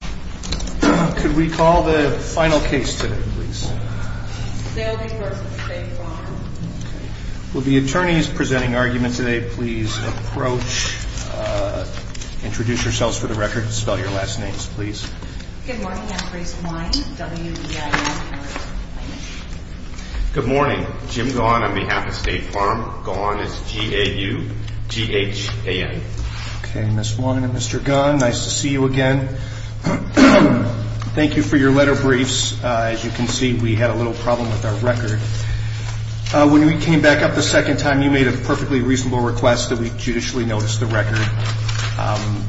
Could we call the final case today, please? Dalby v. State Farm. Will the attorneys presenting argument today please approach, introduce yourselves for the record, and spell your last names, please. Good morning. I'm Grace Wine, W-E-I-N. Good morning. Jim Gaughan on behalf of State Farm. Gaughan is G-A-U-G-H-A-N. Okay, Ms. Wine and Mr. Gaughan, nice to see you again. Thank you for your letter briefs. As you can see, we had a little problem with our record. When we came back up the second time, you made a perfectly reasonable request that we judicially notice the record.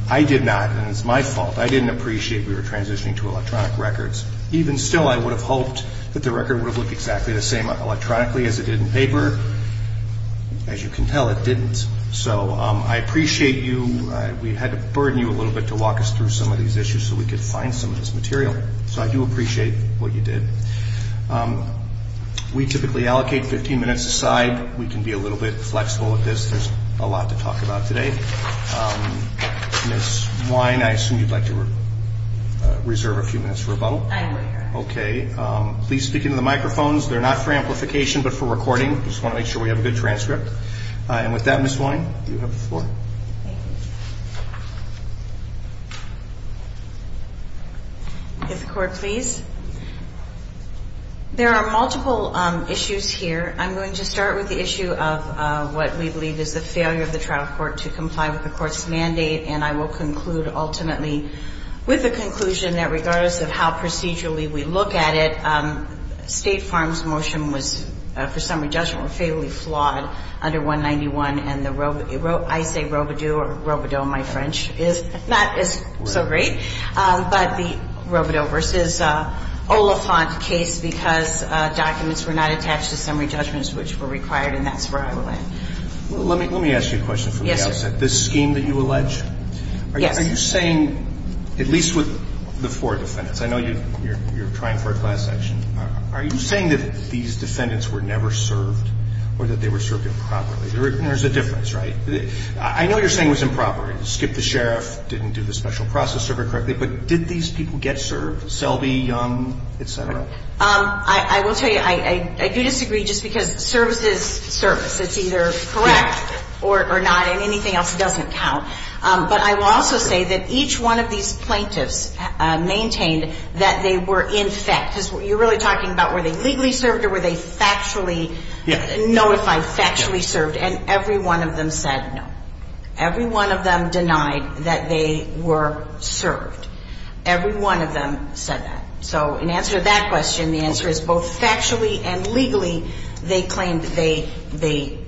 I did not, and it's my fault. I didn't appreciate we were transitioning to electronic records. Even still, I would have hoped that the record would have looked exactly the same electronically as it did in paper. As you can tell, it didn't. So I appreciate you. We had to burden you a little bit to walk us through some of these issues so we could find some of this material. So I do appreciate what you did. We typically allocate 15 minutes a side. We can be a little bit flexible with this. There's a lot to talk about today. Ms. Wine, I assume you'd like to reserve a few minutes for a bubble? I will. Okay. Please speak into the microphones. They're not for amplification but for recording. I just want to make sure we have a good transcript. And with that, Ms. Wine, you have the floor. If the Court please. There are multiple issues here. I'm going to start with the issue of what we believe is the failure of the trial court to comply with the court's mandate. And I will conclude ultimately with the conclusion that regardless of how procedurally we look at it, State Farm's motion was, for summary judgment, was fairly flawed under 191. And I say Robodeau, Robodeau my French, is not so great. But the Robodeau v. Oliphant case because documents were not attached to summary judgments which were required. And that's where I will end. Let me ask you a question from the outset. Yes, sir. In this scheme that you allege, are you saying, at least with the four defendants, I know you're trying for a class action, are you saying that these defendants were never served or that they were served improperly? There's a difference, right? I know you're saying it was improper, skip the sheriff, didn't do the special process server correctly, but did these people get served, Selby, Young, et cetera? I will tell you, I do disagree just because service is service. It's either correct or not and anything else doesn't count. But I will also say that each one of these plaintiffs maintained that they were in fact. You're really talking about were they legally served or were they factually notified, factually served? And every one of them said no. Every one of them denied that they were served. Every one of them said that. So in answer to that question, the answer is both factually and legally they claimed that they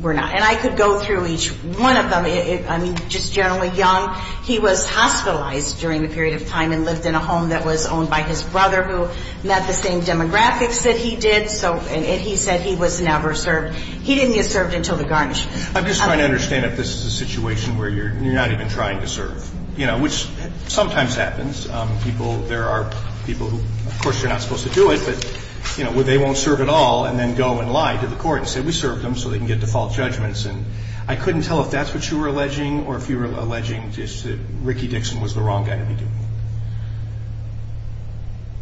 were not. And I could go through each one of them. I mean, just generally, Young, he was hospitalized during the period of time and lived in a home that was owned by his brother who met the same demographics that he did. So he said he was never served. He didn't get served until the garnishment. I'm just trying to understand if this is a situation where you're not even trying to serve, you know, which sometimes happens. People, there are people who, of course, you're not supposed to do it, but, you know, they won't serve at all and then go and lie to the court and say, we served them so they can get default judgments. And I couldn't tell if that's what you were alleging or if you were alleging just that Ricky Dixon was the wrong guy to be doing it.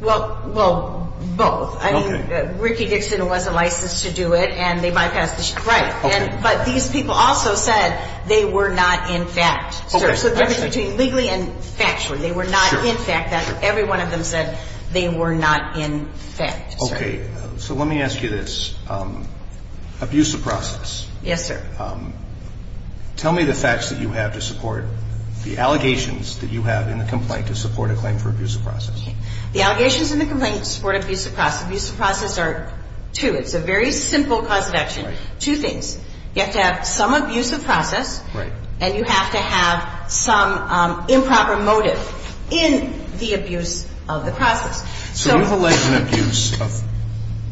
Well, both. I mean, Ricky Dixon wasn't licensed to do it and they bypassed the statute. Right. But these people also said they were not in fact served. So the difference between legally and factually. They were not in fact. Every one of them said they were not in fact served. Okay. So let me ask you this. Abuse of process. Yes, sir. Tell me the facts that you have to support the allegations that you have in the complaint to support a claim for abuse of process. The allegations in the complaint support abuse of process. Abuse of process are two. It's a very simple cause of action. Two things. You have to have some abuse of process. Right. And you have to have some improper motive in the abuse of the process. So you've alleged an abuse of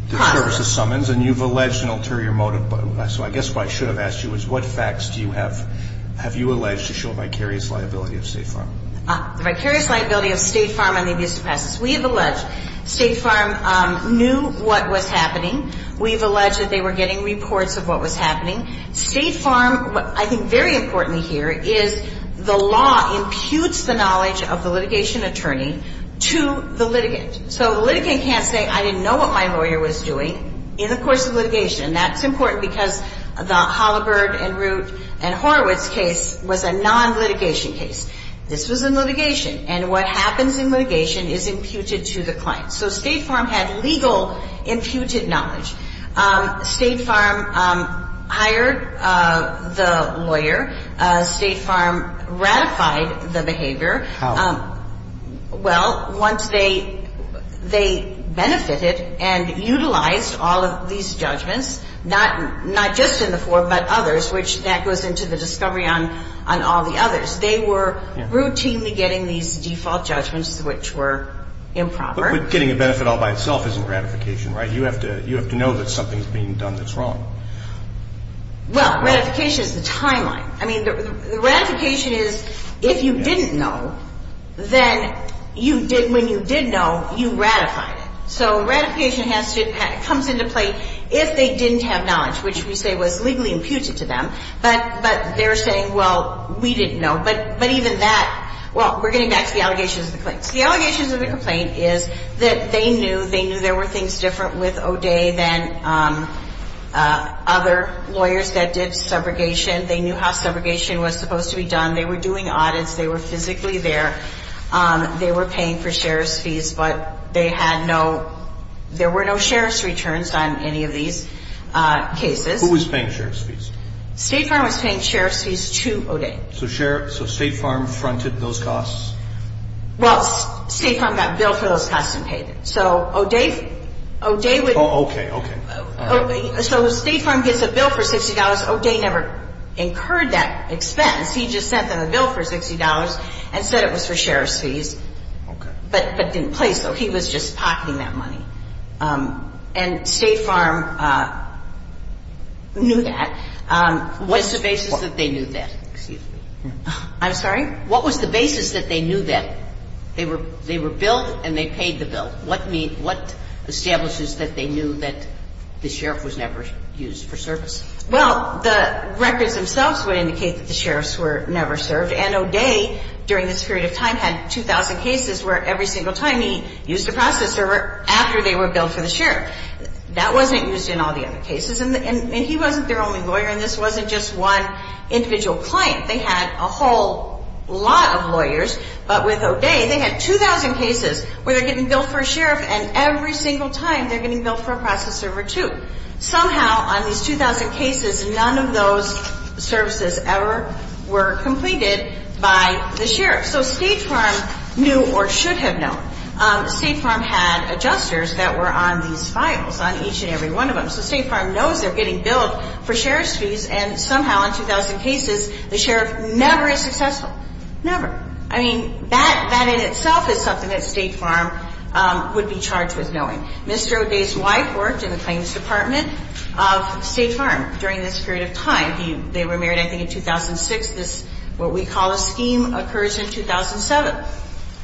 the service of summons and you've alleged an ulterior motive. So I guess what I should have asked you is what facts do you have? Have you alleged to show vicarious liability of State Farm? The vicarious liability of State Farm on the abuse of process. We have alleged State Farm knew what was happening. We've alleged that they were getting reports of what was happening. State Farm, I think very importantly here, is the law imputes the knowledge of the litigation attorney to the litigant. So the litigant can't say, I didn't know what my lawyer was doing in the course of litigation. That's important because the Holabird and Root and Horowitz case was a non-litigation case. This was in litigation. And what happens in litigation is imputed to the client. So State Farm had legal imputed knowledge. State Farm hired the lawyer. State Farm ratified the behavior. How? Well, once they benefited and utilized all of these judgments, not just in the four but others, which that goes into the discovery on all the others. They were routinely getting these default judgments which were improper. But getting a benefit all by itself isn't ratification, right? You have to know that something is being done that's wrong. Well, ratification is the timeline. I mean, the ratification is if you didn't know, then when you did know, you ratified it. So ratification comes into play if they didn't have knowledge, which we say was legally imputed to them. But they're saying, well, we didn't know. But even that, well, we're getting back to the allegations of the complaint. The allegations of the complaint is that they knew there were things different with O'Day than other lawyers that did subrogation. They knew how subrogation was supposed to be done. They were doing audits. They were physically there. They were paying for sheriff's fees. But they had no ‑‑ there were no sheriff's returns on any of these cases. Who was paying sheriff's fees? State Farm was paying sheriff's fees to O'Day. So State Farm fronted those costs? Well, State Farm got billed for those costs and paid it. So O'Day would ‑‑ Oh, okay, okay. So State Farm gets a bill for $60. O'Day never incurred that expense. He just sent them a bill for $60 and said it was for sheriff's fees. Okay. But it didn't place, though. He was just pocketing that money. And State Farm knew that. What's the basis that they knew that? Excuse me. I'm sorry? What was the basis that they knew that? They were billed and they paid the bill. What establishes that they knew that the sheriff was never used for service? Well, the records themselves would indicate that the sheriffs were never served. And O'Day, during this period of time, had 2,000 cases where every single time he used a process server after they were billed for the sheriff. That wasn't used in all the other cases. And he wasn't their only lawyer in this. It wasn't just one individual client. They had a whole lot of lawyers. But with O'Day, they had 2,000 cases where they're getting billed for a sheriff and every single time they're getting billed for a process server, too. Somehow, on these 2,000 cases, none of those services ever were completed by the sheriff. So State Farm knew or should have known. State Farm had adjusters that were on these files, on each and every one of them. So State Farm knows they're getting billed for sheriff's fees, and somehow, on 2,000 cases, the sheriff never is successful. Never. I mean, that in itself is something that State Farm would be charged with knowing. Mr. O'Day's wife worked in the claims department of State Farm during this period of time. They were married, I think, in 2006. This, what we call a scheme, occurs in 2007.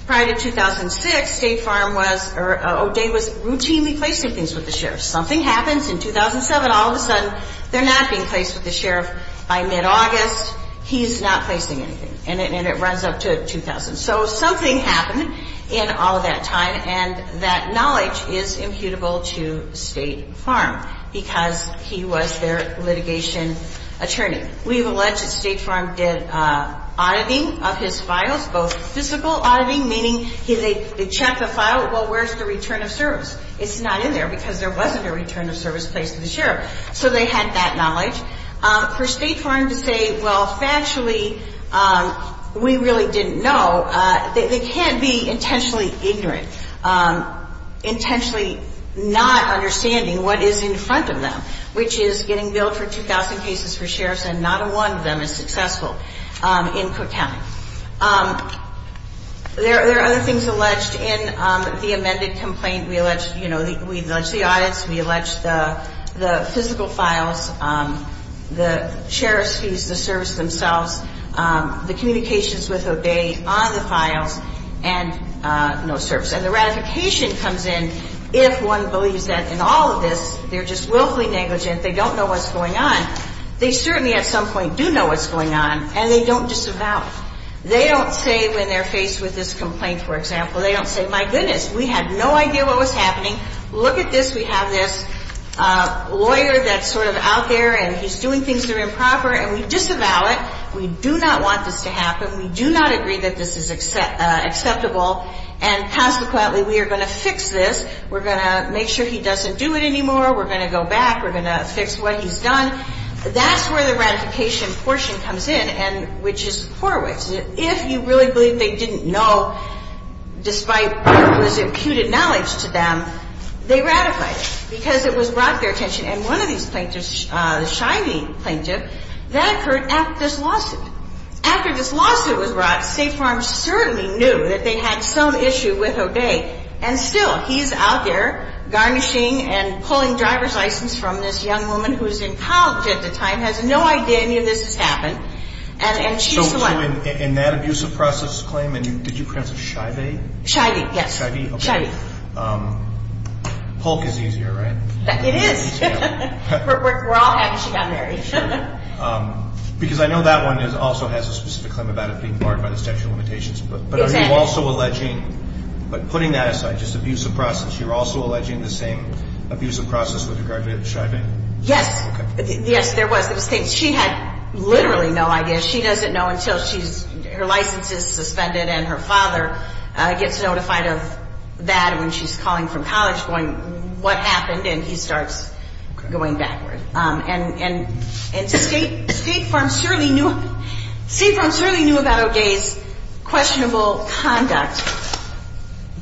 Prior to 2006, State Farm was or O'Day was routinely placing things with the sheriff. Something happens in 2007, all of a sudden they're not being placed with the sheriff. By mid-August, he's not placing anything, and it runs up to 2000. So something happened in all of that time, and that knowledge is imputable to State Farm because he was their litigation attorney. We have alleged that State Farm did auditing of his files, both physical auditing, meaning they checked the file, well, where's the return of service? It's not in there because there wasn't a return of service placed to the sheriff. So they had that knowledge. For State Farm to say, well, factually, we really didn't know, they can't be intentionally ignorant, intentionally not understanding what is in front of them, which is getting billed for 2,000 cases for sheriffs, and not one of them is successful in Cook County. There are other things alleged in the amended complaint. We've alleged the audits. We've alleged the physical files, the sheriff's fees, the service themselves, the communications with O'Day on the files, and no service. And the ratification comes in if one believes that in all of this they're just willfully negligent, they don't know what's going on. They certainly at some point do know what's going on, and they don't disavow. They don't say when they're faced with this complaint, for example, they don't say, my goodness, we had no idea what was happening. Look at this. We have this lawyer that's sort of out there, and he's doing things that are improper, and we disavow it. We do not want this to happen. We do not agree that this is acceptable. And consequently, we are going to fix this. We're going to make sure he doesn't do it anymore. We're going to go back. We're going to fix what he's done. That's where the ratification portion comes in, which is Horowitz. If you really believe they didn't know, despite what was imputed knowledge to them, they ratified it because it was brought to their attention. And one of these plaintiffs, a shiny plaintiff, that occurred after this lawsuit. After this lawsuit was brought, State Farm certainly knew that they had some issue with O'Day, and still he's out there garnishing and pulling driver's license from this young woman who was in college at the time, has no idea any of this has happened, and she's the one. So in that abusive process claim, and did you pronounce it shy-vay? Shy-vay, yes. Shy-vay, okay. Polk is easier, right? It is. We're all happy she got married. Because I know that one also has a specific claim about it being barred by the statute of limitations. Exactly. But are you also alleging, but putting that aside, just abusive process, you're also alleging the same abusive process with regard to shy-vay? Yes. Okay. Yes, there was. She had literally no idea. She doesn't know until her license is suspended and her father gets notified of that when she's calling from college going, what happened, and he starts going backward. And State Farm certainly knew about O'Day's questionable conduct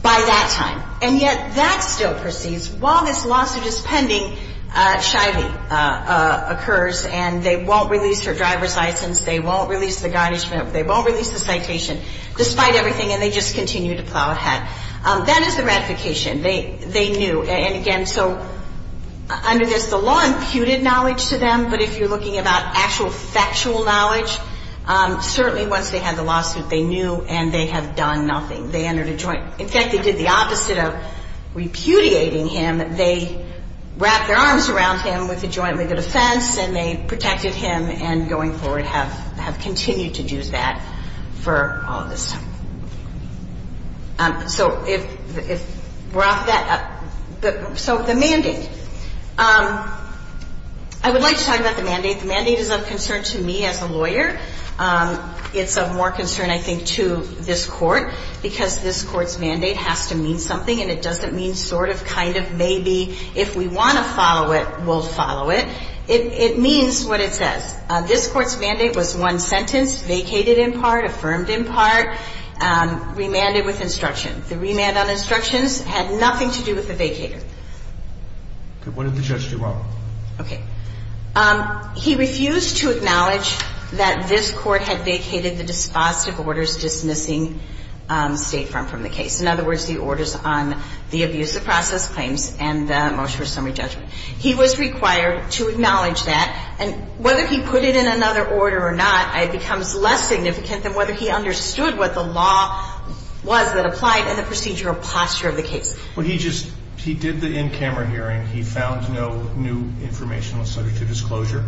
by that time. And yet that still proceeds. While this lawsuit is pending, shy-vay occurs, and they won't release her driver's license, they won't release the garnishment, they won't release the citation, despite everything, and they just continue to plow ahead. That is the ratification. They knew. And again, so under this, the law imputed knowledge to them, but if you're looking about actual factual knowledge, certainly once they had the lawsuit, they knew and they have done nothing. They entered a joint. In fact, they did the opposite of repudiating him. They wrapped their arms around him with a joint legal defense and they protected him and going forward have continued to do that for all this time. So if we're off that, so the mandate. I would like to talk about the mandate. The mandate is of concern to me as a lawyer. It's of more concern, I think, to this court because this court's mandate has to mean something and it doesn't mean sort of kind of maybe if we want to follow it, we'll follow it. It means what it says. This court's mandate was one sentence, vacated in part, affirmed in part, remanded with instruction. The remand on instructions had nothing to do with the vacater. Okay. What did the judge do wrong? Okay. He refused to acknowledge that this court had vacated the dispositive orders dismissing State Farm from the case. In other words, the orders on the abuse of process claims and the motion for summary judgment. He was required to acknowledge that, and whether he put it in another order or not, it becomes less significant than whether he understood what the law was that applied and the procedural posture of the case. Well, he just did the in-camera hearing. He found no new informational subject to disclosure,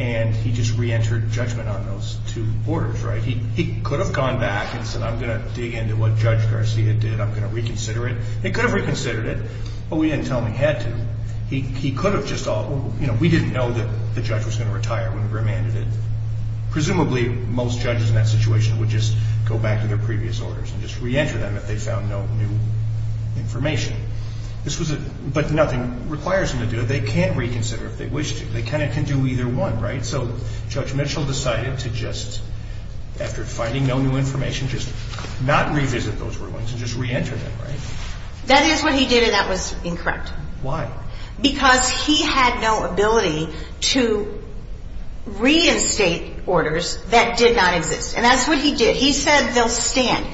and he just reentered judgment on those two orders, right? He could have gone back and said, I'm going to dig into what Judge Garcia did. I'm going to reconsider it. They could have reconsidered it, but we didn't tell him he had to. And he could have just, you know, we didn't know that the judge was going to retire when he remanded it. Presumably, most judges in that situation would just go back to their previous orders and just reenter them if they found no new information. But nothing requires them to do it. They can reconsider if they wish to. They kind of can do either one, right? So Judge Mitchell decided to just, after finding no new information, just not revisit those rulings and just reenter them, right? That is what he did, and that was incorrect. Why? Because he had no ability to reinstate orders that did not exist. And that's what he did. He said they'll stand.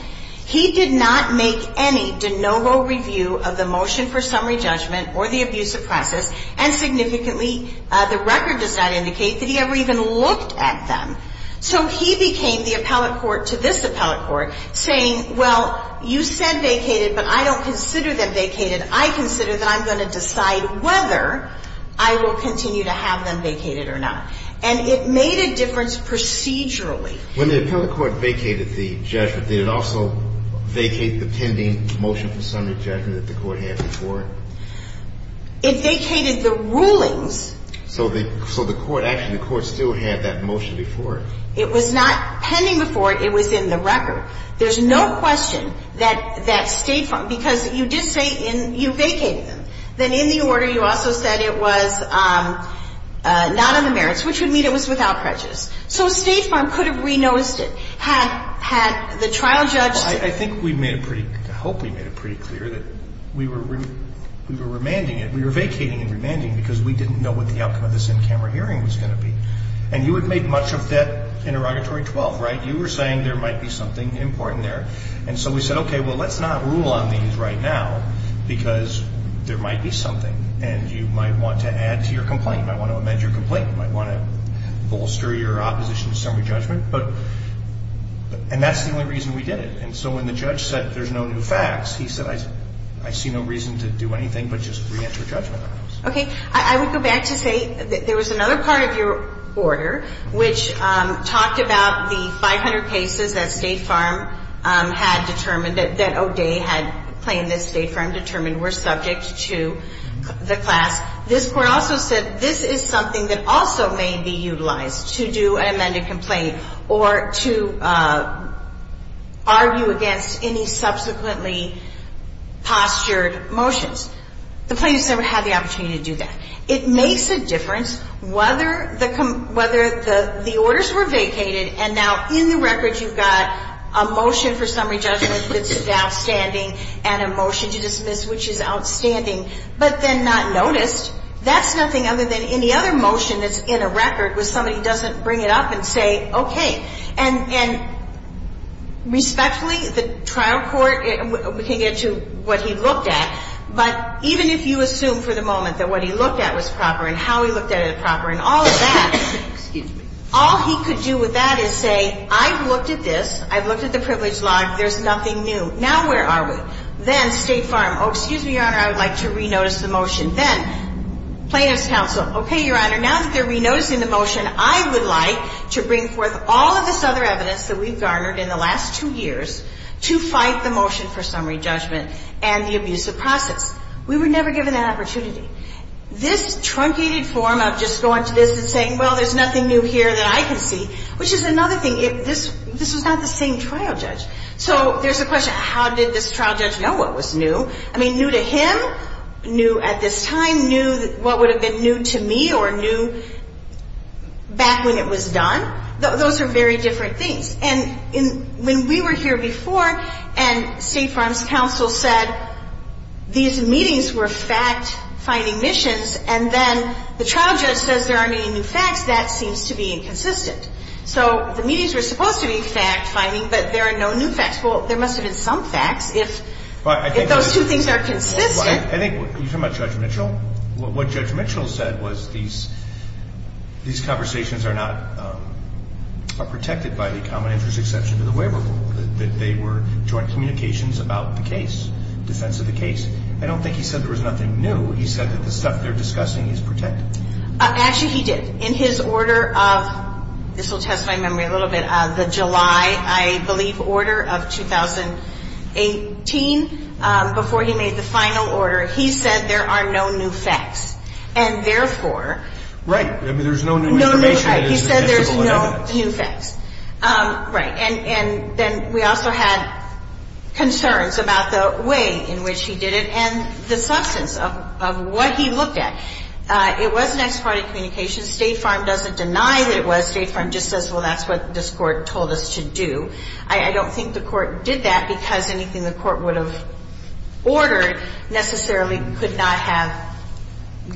He did not make any de novo review of the motion for summary judgment or the abusive process, and significantly, the record does not indicate that he ever even looked at them. So he became the appellate court to this appellate court, saying, well, you said vacated, but I don't consider them vacated. I consider that I'm going to decide whether I will continue to have them vacated or not. And it made a difference procedurally. When the appellate court vacated the judgment, did it also vacate the pending motion for summary judgment that the court had before it? It vacated the rulings. So the court, actually, the court still had that motion before it. It was not pending before it. It was in the record. There's no question that State Farm, because you did say you vacated them. Then in the order, you also said it was not on the merits, which would mean it was without prejudice. So State Farm could have renoticed it. Had the trial judge said it? I think we made it pretty clear, I hope we made it pretty clear, that we were remanding it. We were vacating and remanding because we didn't know what the outcome of this in-camera hearing was going to be. And you had made much of that interrogatory 12, right? You were saying there might be something important there. And so we said, okay, well, let's not rule on these right now because there might be something. And you might want to add to your complaint. You might want to amend your complaint. You might want to bolster your opposition to summary judgment. And that's the only reason we did it. And so when the judge said there's no new facts, he said, I see no reason to do anything but just reenter judgment on this. Okay. I would go back to say that there was another part of your order which talked about the 500 cases that State Farm had determined that O'Day had claimed that State Farm determined were subject to the class. This court also said this is something that also may be utilized to do an amended complaint or to argue against any subsequently postured motions. The plaintiffs never had the opportunity to do that. It makes a difference whether the orders were vacated and now in the record you've got a motion for summary judgment that's outstanding and a motion to dismiss which is outstanding, but then not noticed. That's nothing other than any other motion that's in a record where somebody doesn't bring it up and say, okay. And respectfully, the trial court can get to what he looked at. But even if you assume for the moment that what he looked at was proper and how he looked at it proper and all of that, all he could do with that is say, I've looked at this. I've looked at the privilege log. There's nothing new. Now where are we? Then State Farm, oh, excuse me, Your Honor, I would like to re-notice the motion. Then plaintiff's counsel, okay, Your Honor, now that they're re-noticing the motion, I would like to bring forth all of this other evidence that we've garnered in the last two years to fight the motion for summary judgment and the abusive process. We were never given that opportunity. This truncated form of just going to this and saying, well, there's nothing new here that I can see, which is another thing. This was not the same trial judge. So there's the question, how did this trial judge know what was new? I mean, new to him? New at this time? New, what would have been new to me or new back when it was done? Those are very different things. And when we were here before and State Farm's counsel said these meetings were fact-finding missions and then the trial judge says there aren't any new facts, that seems to be inconsistent. So the meetings were supposed to be fact-finding, but there are no new facts. Well, there must have been some facts if those two things are consistent. I think you're talking about Judge Mitchell. What Judge Mitchell said was these conversations are not protected by the common interest exception to the waiver rule, that they were joint communications about the case, defense of the case. I don't think he said there was nothing new. He said that the stuff they're discussing is protected. Actually, he did. In his order of, this will test my memory a little bit, the July, I believe, order of 2018, before he made the final order, he said there are no new facts. And therefore. Right. I mean, there's no new information. No new facts. He said there's no new facts. Right. And then we also had concerns about the way in which he did it and the substance of what he looked at. It was an ex parte communication. State Farm doesn't deny that it was. State Farm just says, well, that's what this Court told us to do. I don't think the Court did that because anything the Court would have ordered necessarily could not have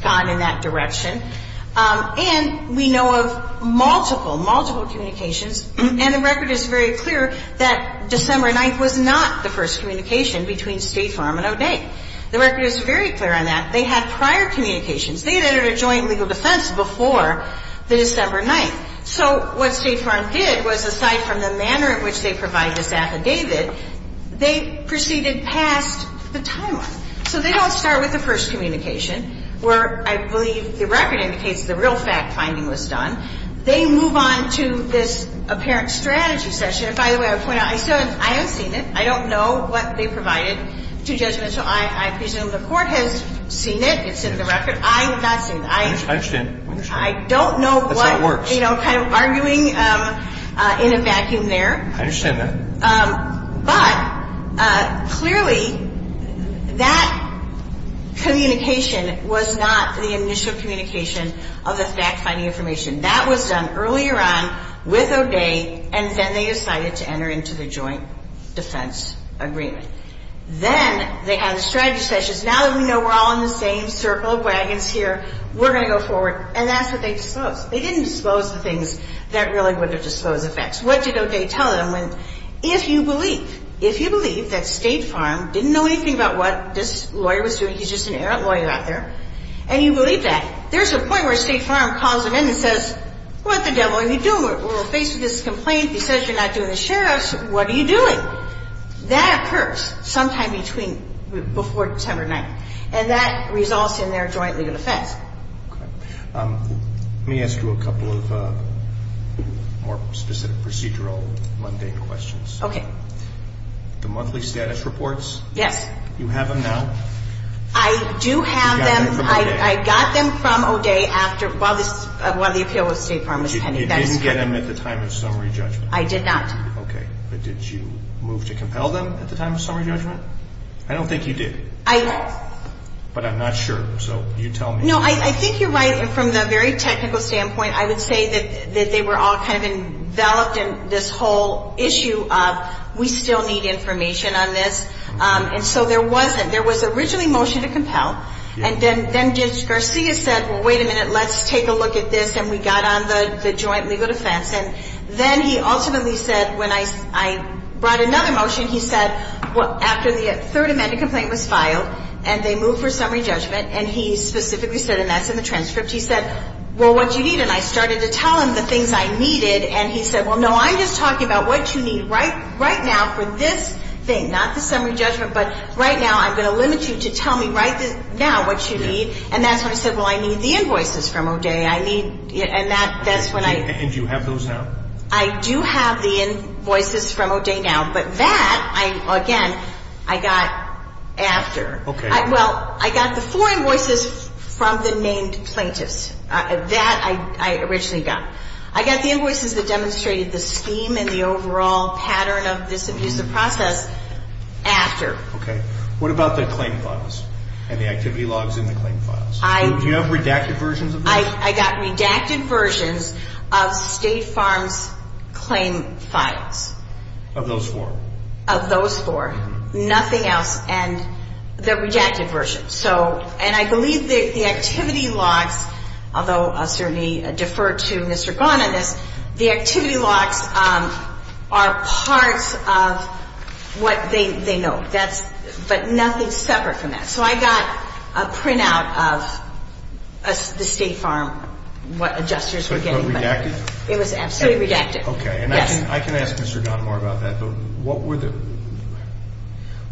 gone in that direction. And we know of multiple, multiple communications, and the record is very clear that December 9th was not the first communication between State Farm and O'Day. The record is very clear on that. They had prior communications. They had entered a joint legal defense before the December 9th. So what State Farm did was, aside from the manner in which they provide this affidavit, they proceeded past the timeline. So they don't start with the first communication, where I believe the record indicates the real fact finding was done. They move on to this apparent strategy session. And by the way, I point out, I haven't seen it. I don't know what they provided to judgment. So I presume the Court has seen it. It's in the record. I have not seen it. I don't know what, you know, kind of arguing in a vacuum there. I understand that. But clearly, that communication was not the initial communication of the fact finding information. That was done earlier on with O'Day, and then they decided to enter into the joint defense agreement. Then they had the strategy sessions. Now that we know we're all in the same circle of wagons here, we're going to go forward. And that's what they disposed. They didn't dispose the things that really would have disposed effects. What did O'Day tell them? If you believe, if you believe that State Farm didn't know anything about what this lawyer was doing, he's just an errant lawyer out there, and you believe that, there's a point where State Farm calls him in and says, what the devil are you doing? We're faced with this complaint. He says you're not doing the shareouts. What are you doing? That occurs sometime before December 9th, and that results in their joint legal defense. Let me ask you a couple of more specific procedural, mundane questions. Okay. The monthly status reports? Yes. You have them now? I do have them. I got them from O'Day while the appeal with State Farm was pending. You didn't get them at the time of summary judgment? I did not. Okay. But did you move to compel them at the time of summary judgment? I don't think you did, but I'm not sure, so you tell me. No, I think you're right. From the very technical standpoint, I would say that they were all kind of enveloped in this whole issue of we still need information on this. And so there wasn't. There was originally motion to compel, and then Judge Garcia said, well, wait a minute, let's take a look at this, and we got on the joint legal defense. And then he ultimately said, when I brought another motion, he said, well, after the third amended complaint was filed and they moved for summary judgment, and he specifically said, and that's in the transcript, he said, well, what do you need? And I started to tell him the things I needed, and he said, well, no, I'm just talking about what you need right now for this thing, not the summary judgment, but right now I'm going to limit you to tell me right now what you need. And that's when I said, well, I need the invoices from O'Day. I mean, and that's when I. And do you have those now? I do have the invoices from O'Day now, but that, again, I got after. Okay. Well, I got the four invoices from the named plaintiffs. That I originally got. I got the invoices that demonstrated the scheme and the overall pattern of this abusive process after. Okay. What about the claim files and the activity logs in the claim files? I. Do you have redacted versions of those? I got redacted versions of State Farm's claim files. Of those four? Of those four. Nothing else and the redacted versions. So, and I believe the activity logs, although I'll certainly defer to Mr. Ghan on this, the activity logs are parts of what they know. That's, but nothing separate from that. So, I got a printout of the State Farm what adjusters were getting. But redacted? It was absolutely redacted. Okay. Yes. And I can ask Mr. Ghan more about that, but what were the,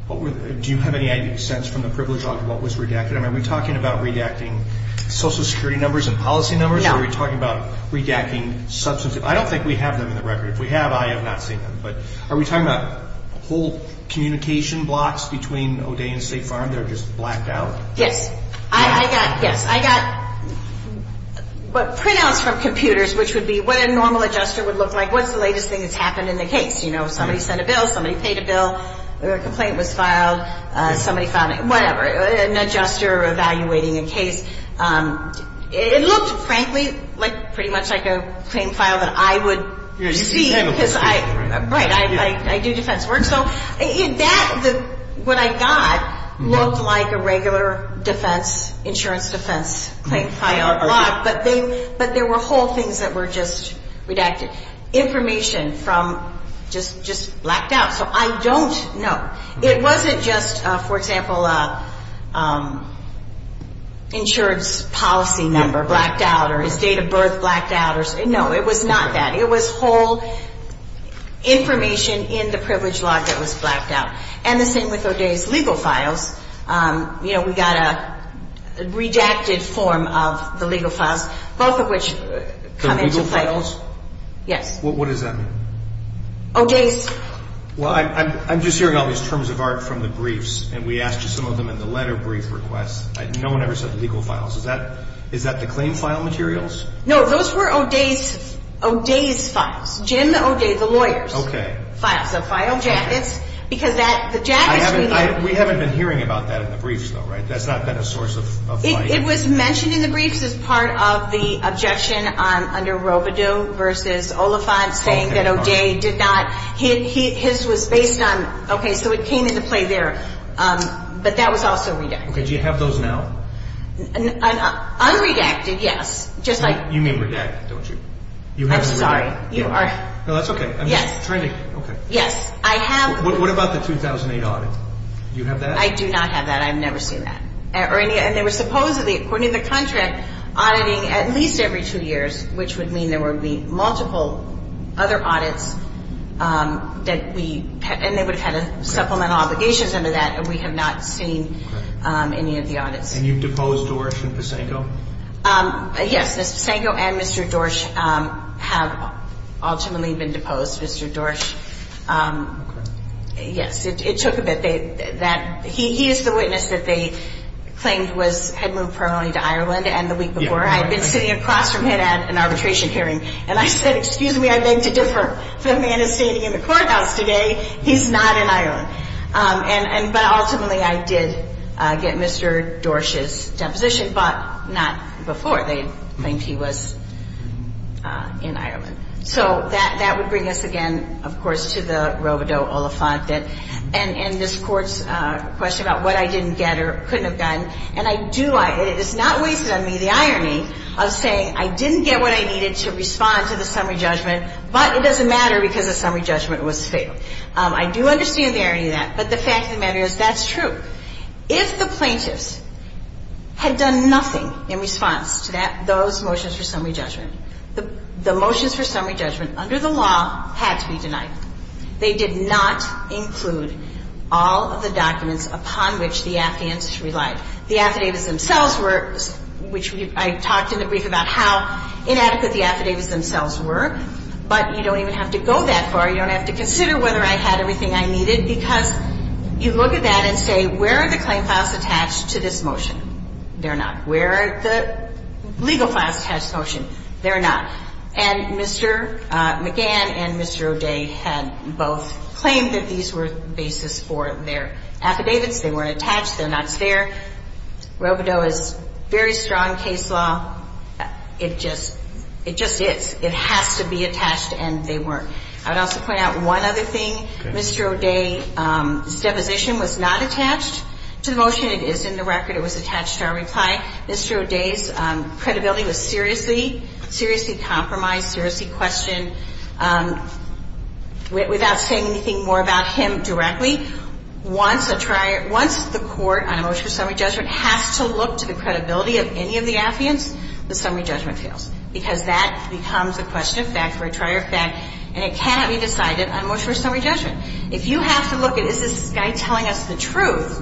what were the, do you have any sense from the privilege log of what was redacted? I mean, are we talking about redacting social security numbers and policy numbers? No. Or are we talking about redacting substantive, I don't think we have them in the record. If we have, I have not seen them. But are we talking about whole communication blocks between O'Day and State Farm that are just blacked out? Yes. I got, yes. I got printouts from computers, which would be what a normal adjuster would look like. What's the latest thing that's happened in the case? You know, somebody sent a bill, somebody paid a bill, a complaint was filed, somebody filed, whatever. An adjuster evaluating a case. It looked, frankly, like pretty much like a claim file that I would see. Yeah, you can handle complaints, right? Right. I do defense work. So in that, what I got looked like a regular defense, insurance defense claim file, but there were whole things that were just redacted. Information from just blacked out. So I don't know. It wasn't just, for example, insurance policy number blacked out or his date of birth blacked out. No, it was not that. It was whole information in the privilege log that was blacked out. And the same with O'Day's legal files. You know, we got a redacted form of the legal files, both of which come into play. The legal files? Yes. What does that mean? O'Day's. Well, I'm just hearing all these terms of art from the briefs, and we asked you some of them in the letter brief request. No one ever said the legal files. Is that the claim file materials? No, those were O'Day's files. Jim O'Day, the lawyers. Okay. Files. So file jackets, because the jackets we got. We haven't been hearing about that in the briefs, though, right? That's not been a source of light. It was mentioned in the briefs as part of the objection under Robidoux versus Oliphant saying that O'Day did not. His was based on, okay, so it came into play there. But that was also redacted. Okay. Do you have those now? Unredacted, yes. You mean redacted, don't you? I'm sorry. No, that's okay. Yes. Okay. Yes, I have. What about the 2008 audit? Do you have that? I do not have that. I've never seen that. And they were supposedly, according to the contract, auditing at least every two years, which would mean there would be multiple other audits, and they would have had supplemental obligations under that, and we have not seen any of the audits. And you've deposed Dorsch and Pisanco? Yes. Mr. Pisanco and Mr. Dorsch have ultimately been deposed. Mr. Dorsch, yes, it took a bit. He is the witness that they claimed had moved permanently to Ireland. And the week before, I had been sitting across from him at an arbitration hearing, and I said, excuse me, I beg to differ. The man is standing in the courthouse today. He's not in Ireland. But ultimately, I did get Mr. Dorsch's deposition, but not before. They claimed he was in Ireland. So that would bring us again, of course, to the Robodeaux Oliphant, and this Court's question about what I didn't get or couldn't have gotten. And I do – it is not wasted on me the irony of saying I didn't get what I needed to respond to the summary judgment, but it doesn't matter because the summary judgment was failed. I do understand the irony of that, but the fact of the matter is that's true. If the plaintiffs had done nothing in response to that – those motions for summary judgment, the motions for summary judgment under the law had to be denied. They did not include all of the documents upon which the affidavits relied. The affidavits themselves were – which I talked in the brief about how inadequate the affidavits themselves were, but you don't even have to go that far. You don't have to consider whether I had everything I needed because you look at that and say, where are the claim files attached to this motion? They're not. Where are the legal files attached to the motion? They're not. And Mr. McGann and Mr. O'Day had both claimed that these were the basis for their affidavits. They weren't attached. They're not there. Robodeaux is a very strong case law. It just – it just is. It has to be attached, and they weren't. I would also point out one other thing. Mr. O'Day's deposition was not attached to the motion. It is in the record. It was attached to our reply. Mr. O'Day's credibility was seriously – seriously compromised, seriously questioned. Without saying anything more about him directly, once a – once the court on a motion for summary judgment has to look to the credibility of any of the affidavits, the summary judgment fails because that becomes a question of fact or a trier of fact, and it cannot be decided on motion for summary judgment. If you have to look at, is this guy telling us the truth,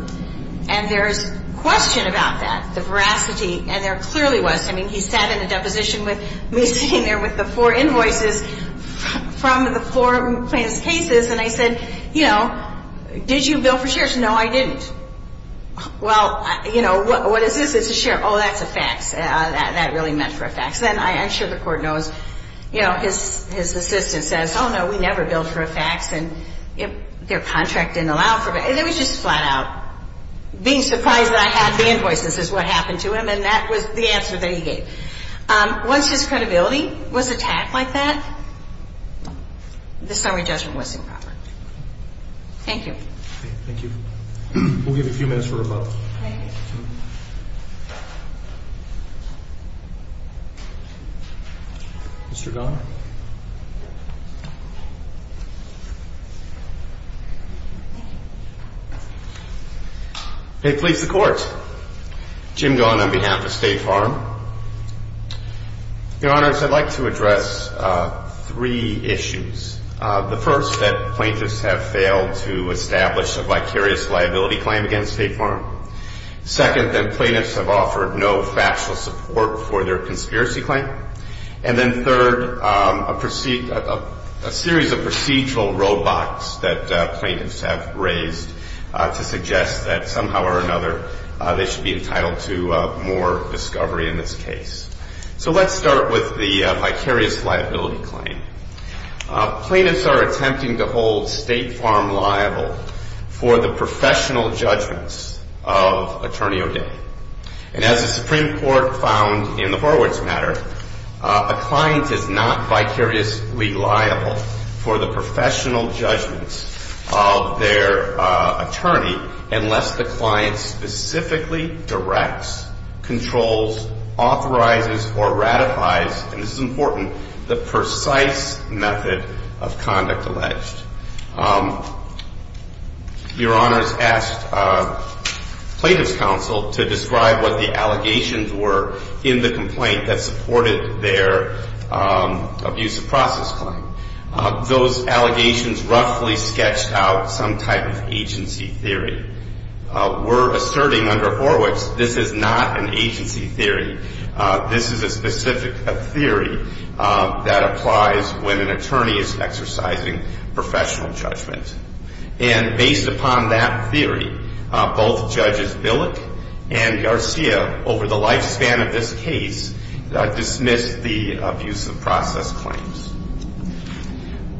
and there's question about that, the veracity, and there clearly was. I mean, he sat in a deposition with me sitting there with the four invoices from the four plaintiff's cases, and I said, you know, did you bill for shares? No, I didn't. Well, you know, what is this? It's a share. Oh, that's a fax. That really meant for a fax, and I'm sure the court knows, you know, his assistant says, oh, no, we never billed for a fax, and their contract didn't allow for – it was just flat out being surprised that I had the invoices is what happened to him, and that was the answer that he gave. Once his credibility was attacked like that, the summary judgment was improper. Thank you. Thank you. We'll give you a few minutes for rebuttal. Thank you. Mr. Donner. May it please the Court. Jim Donner on behalf of State Farm. Your Honors, I'd like to address three issues. The first, that plaintiffs have failed to establish a vicarious liability claim against State Farm. Second, that plaintiffs have offered no factual support for their conspiracy claim. And then third, a series of procedural roadblocks that plaintiffs have raised to suggest that somehow or another they should be entitled to more discovery in this case. So let's start with the vicarious liability claim. Plaintiffs are attempting to hold State Farm liable for the professional judgments of Attorney O'Day. And as the Supreme Court found in the Horowitz matter, a client is not vicariously liable for the professional judgments of their attorney unless the client specifically directs, controls, authorizes, or ratifies – a precise method of conduct alleged. Your Honors asked plaintiffs' counsel to describe what the allegations were in the complaint that supported their abusive process claim. Those allegations roughly sketched out some type of agency theory. We're asserting under Horowitz, this is not an agency theory. This is a specific theory that applies when an attorney is exercising professional judgment. And based upon that theory, both Judges Billick and Garcia, over the lifespan of this case, dismissed the abusive process claims.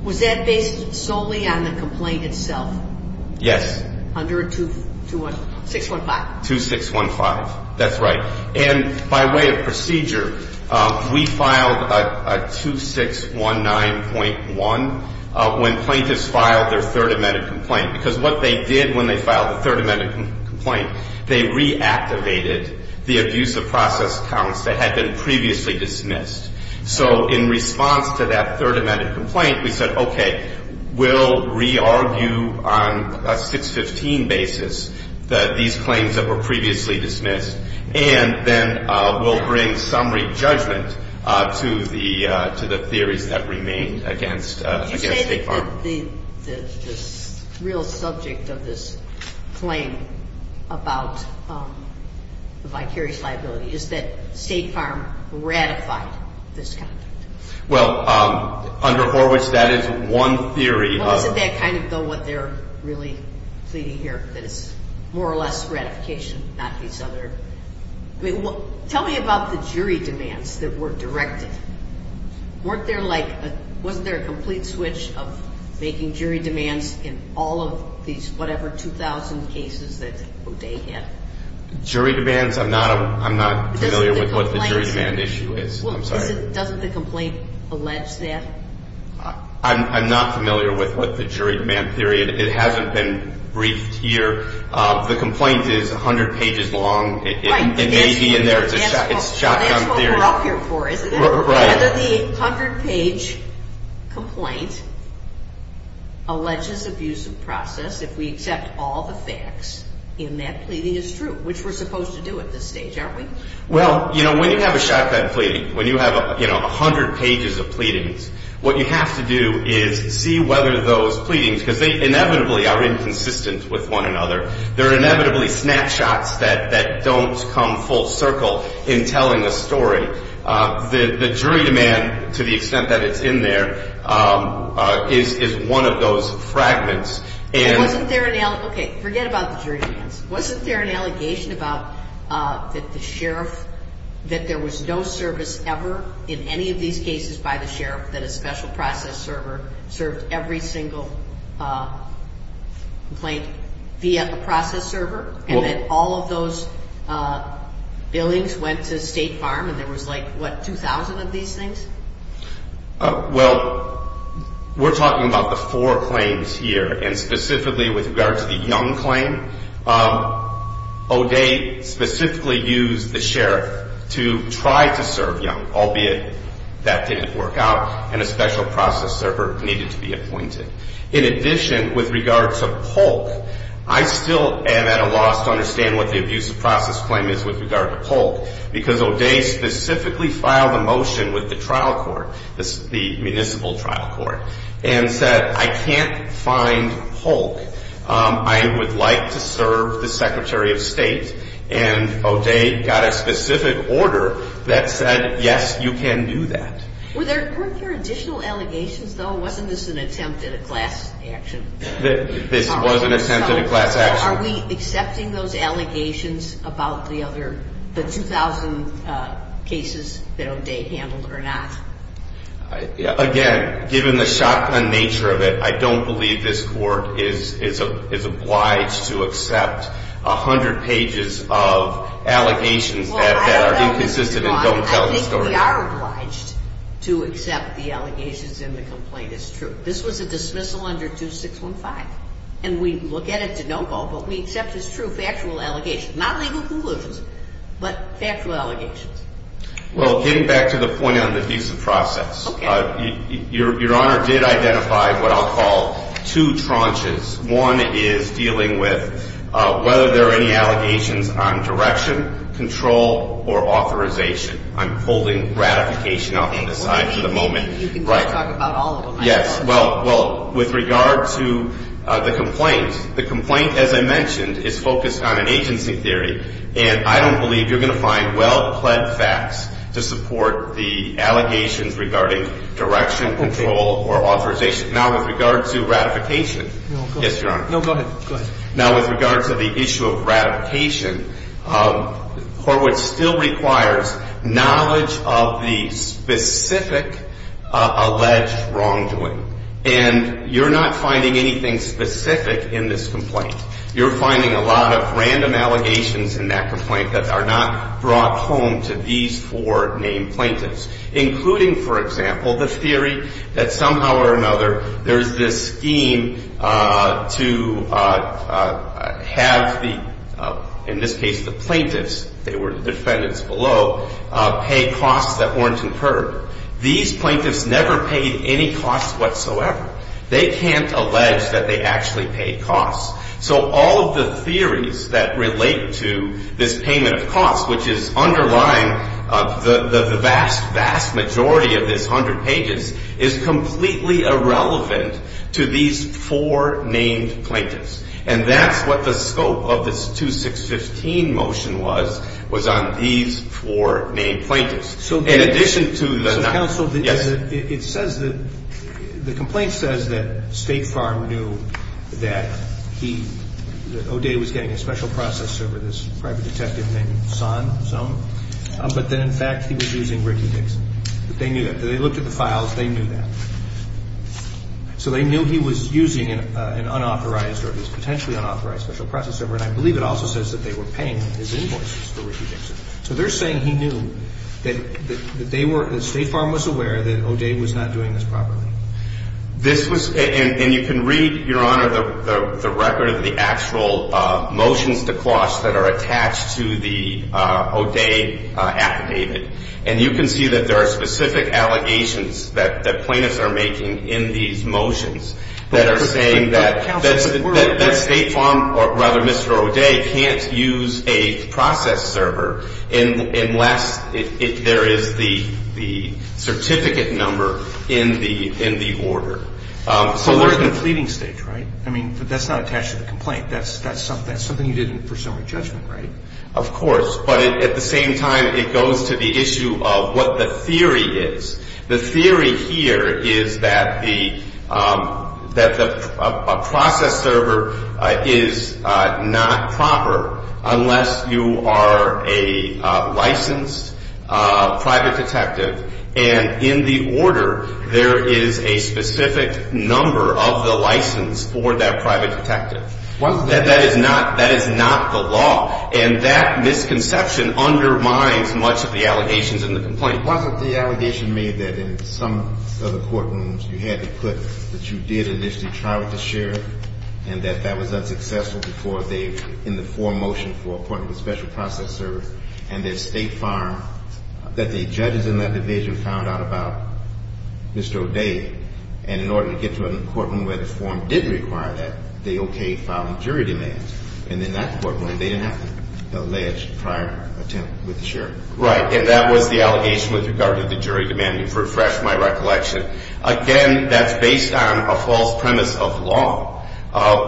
Was that based solely on the complaint itself? Yes. Under 2615? 2615, that's right. And by way of procedure, we filed a 2619.1 when plaintiffs filed their third amended complaint. Because what they did when they filed the third amended complaint, they reactivated the abusive process counts that had been previously dismissed. So in response to that third amended complaint, we said, okay, we'll re-argue on a 615 basis that these claims that were previously dismissed, and then we'll bring summary judgment to the theories that remained against State Farm. Did you say that the real subject of this claim about the vicarious liability is that State Farm ratified this conduct? Well, under Horwich, that is one theory. Well, isn't that kind of what they're really pleading here, that it's more or less ratification, not these other? Tell me about the jury demands that were directed. Wasn't there a complete switch of making jury demands in all of these whatever 2,000 cases that they had? Jury demands? I'm not familiar with what the jury demand issue is. Doesn't the complaint allege that? I'm not familiar with what the jury demand theory is. It hasn't been briefed here. The complaint is 100 pages long. It may be in there. It's a shotgun theory. That's what we're up here for, isn't it? Right. Whether the 100-page complaint alleges abusive process if we accept all the facts in that pleading is true, which we're supposed to do at this stage, aren't we? Well, you know, when you have a shotgun pleading, when you have, you know, 100 pages of pleadings, what you have to do is see whether those pleadings, because they inevitably are inconsistent with one another, they're inevitably snapshots that don't come full circle in telling a story. The jury demand, to the extent that it's in there, is one of those fragments. Okay. Forget about the jury demands. Wasn't there an allegation about that the sheriff, that there was no service ever in any of these cases by the sheriff, that a special process server served every single complaint via a process server, and that all of those billings went to State Farm and there was, like, what, 2,000 of these things? Well, we're talking about the four claims here, and specifically with regard to the Young claim, O'Day specifically used the sheriff to try to serve Young, albeit that didn't work out, and a special process server needed to be appointed. In addition, with regard to Polk, I still am at a loss to understand what the abusive process claim is with regard to Polk, because O'Day specifically filed a motion with the trial court, the municipal trial court, and said, I can't find Polk, I would like to serve the Secretary of State, and O'Day got a specific order that said, yes, you can do that. Weren't there additional allegations, though? Wasn't this an attempt at a class action? This was an attempt at a class action. Are we accepting those allegations about the 2,000 cases that O'Day handled or not? Again, given the shotgun nature of it, I don't believe this court is obliged to accept 100 pages of allegations that are inconsistent and don't tell the story. I think we are obliged to accept the allegations and the complaint is true. This was a dismissal under 2615, and we look at it to no fault, but we accept it as true factual allegations, not legal conclusions, but factual allegations. Well, getting back to the point on the abusive process, your Honor did identify what I'll call two tranches. One is dealing with whether there are any allegations on direction, control, or authorization. I'm holding ratification off to the side for the moment. You can talk about all of them. Yes. Well, with regard to the complaint, the complaint, as I mentioned, is focused on an agency theory, and I don't believe you're going to find well-pled facts to support the allegations regarding direction, control, or authorization. Now, with regard to ratification. No, go ahead. Now, with regard to the issue of ratification, Horwitz still requires knowledge of the specific alleged wrongdoing, and you're not finding anything specific in this complaint. You're finding a lot of random allegations in that complaint that are not brought home to these four named plaintiffs, including, for example, the theory that somehow or another there's this scheme to have the, in this case, the plaintiffs, they were the defendants below, pay costs that weren't incurred. These plaintiffs never paid any costs whatsoever. They can't allege that they actually paid costs. So all of the theories that relate to this payment of costs, which is underlying the vast, vast majority of this 100 pages, is completely irrelevant to these four named plaintiffs, and that's what the scope of this 2615 motion was, was on these four named plaintiffs. In addition to the nine. The complaint says that State Farm knew that he, that O'Day was getting a special process over this private detective named Son, but that, in fact, he was using Ricky Dixon. They knew that. They looked at the files. They knew that. So they knew he was using an unauthorized or he was potentially unauthorized special process over, and I believe it also says that they were paying his invoices for Ricky Dixon. So they're saying he knew that they were, that State Farm was aware that O'Day was not doing this properly. This was, and you can read, Your Honor, the record of the actual motions to cost that are attached to the O'Day affidavit, and you can see that there are specific allegations that the plaintiffs are making in these motions that are saying that State Farm, or rather Mr. O'Day, can't use a process server unless there is the certificate number in the order. So there's a fleeting stage, right? I mean, but that's not attached to the complaint. That's something you did in presuming judgment, right? Of course. But at the same time, it goes to the issue of what the theory is. The theory here is that the process server is not proper unless you are a licensed private detective, and in the order there is a specific number of the license for that private detective. That is not the law, and that misconception undermines much of the allegations in the complaint. It wasn't the allegation made that in some of the courtrooms you had to put that you did initially try with the sheriff and that that was unsuccessful before they, in the forum motion for appointment with special process server, and that State Farm, that the judges in that division found out about Mr. O'Day, and in order to get to a courtroom where the forum did require that, they okayed filing jury demands. And in that courtroom, they didn't have to allege prior attempt with the sheriff. Right. And that was the allegation with regard to the jury demand. You've refreshed my recollection. Again, that's based on a false premise of law,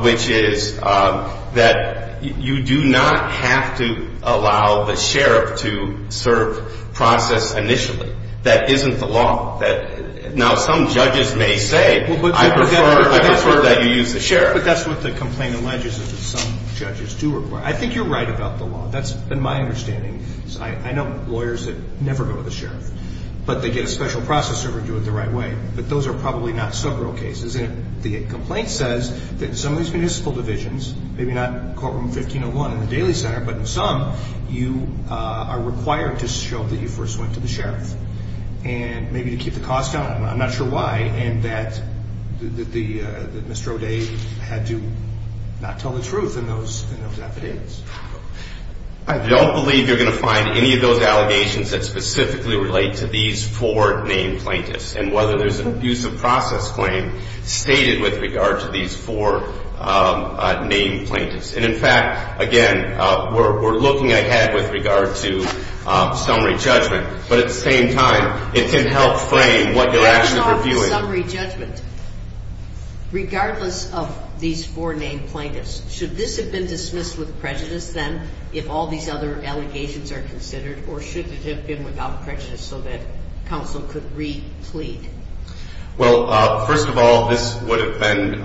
which is that you do not have to allow the sheriff to serve process initially. That isn't the law. Now, some judges may say, I prefer that you use the sheriff. But that's what the complaint alleges is that some judges do require. I think you're right about the law. That's been my understanding. I know lawyers that never go to the sheriff, but they get a special process server and do it the right way. But those are probably not sub-real cases. And the complaint says that in some of these municipal divisions, maybe not courtroom 1501 in the Daly Center, but in some, you are required to show that you first went to the sheriff. And maybe to keep the cost down. I'm not sure why. And that Mr. O'Day had to not tell the truth in those affidavits. I don't believe you're going to find any of those allegations that specifically relate to these four named plaintiffs and whether there's an abuse of process claim stated with regard to these four named plaintiffs. And, in fact, again, we're looking ahead with regard to summary judgment. But at the same time, it can help frame what you're actually reviewing. Back to the summary judgment. Regardless of these four named plaintiffs, should this have been dismissed with prejudice then, if all these other allegations are considered, or should it have been without prejudice so that counsel could re-plead? Well, first of all, this would have been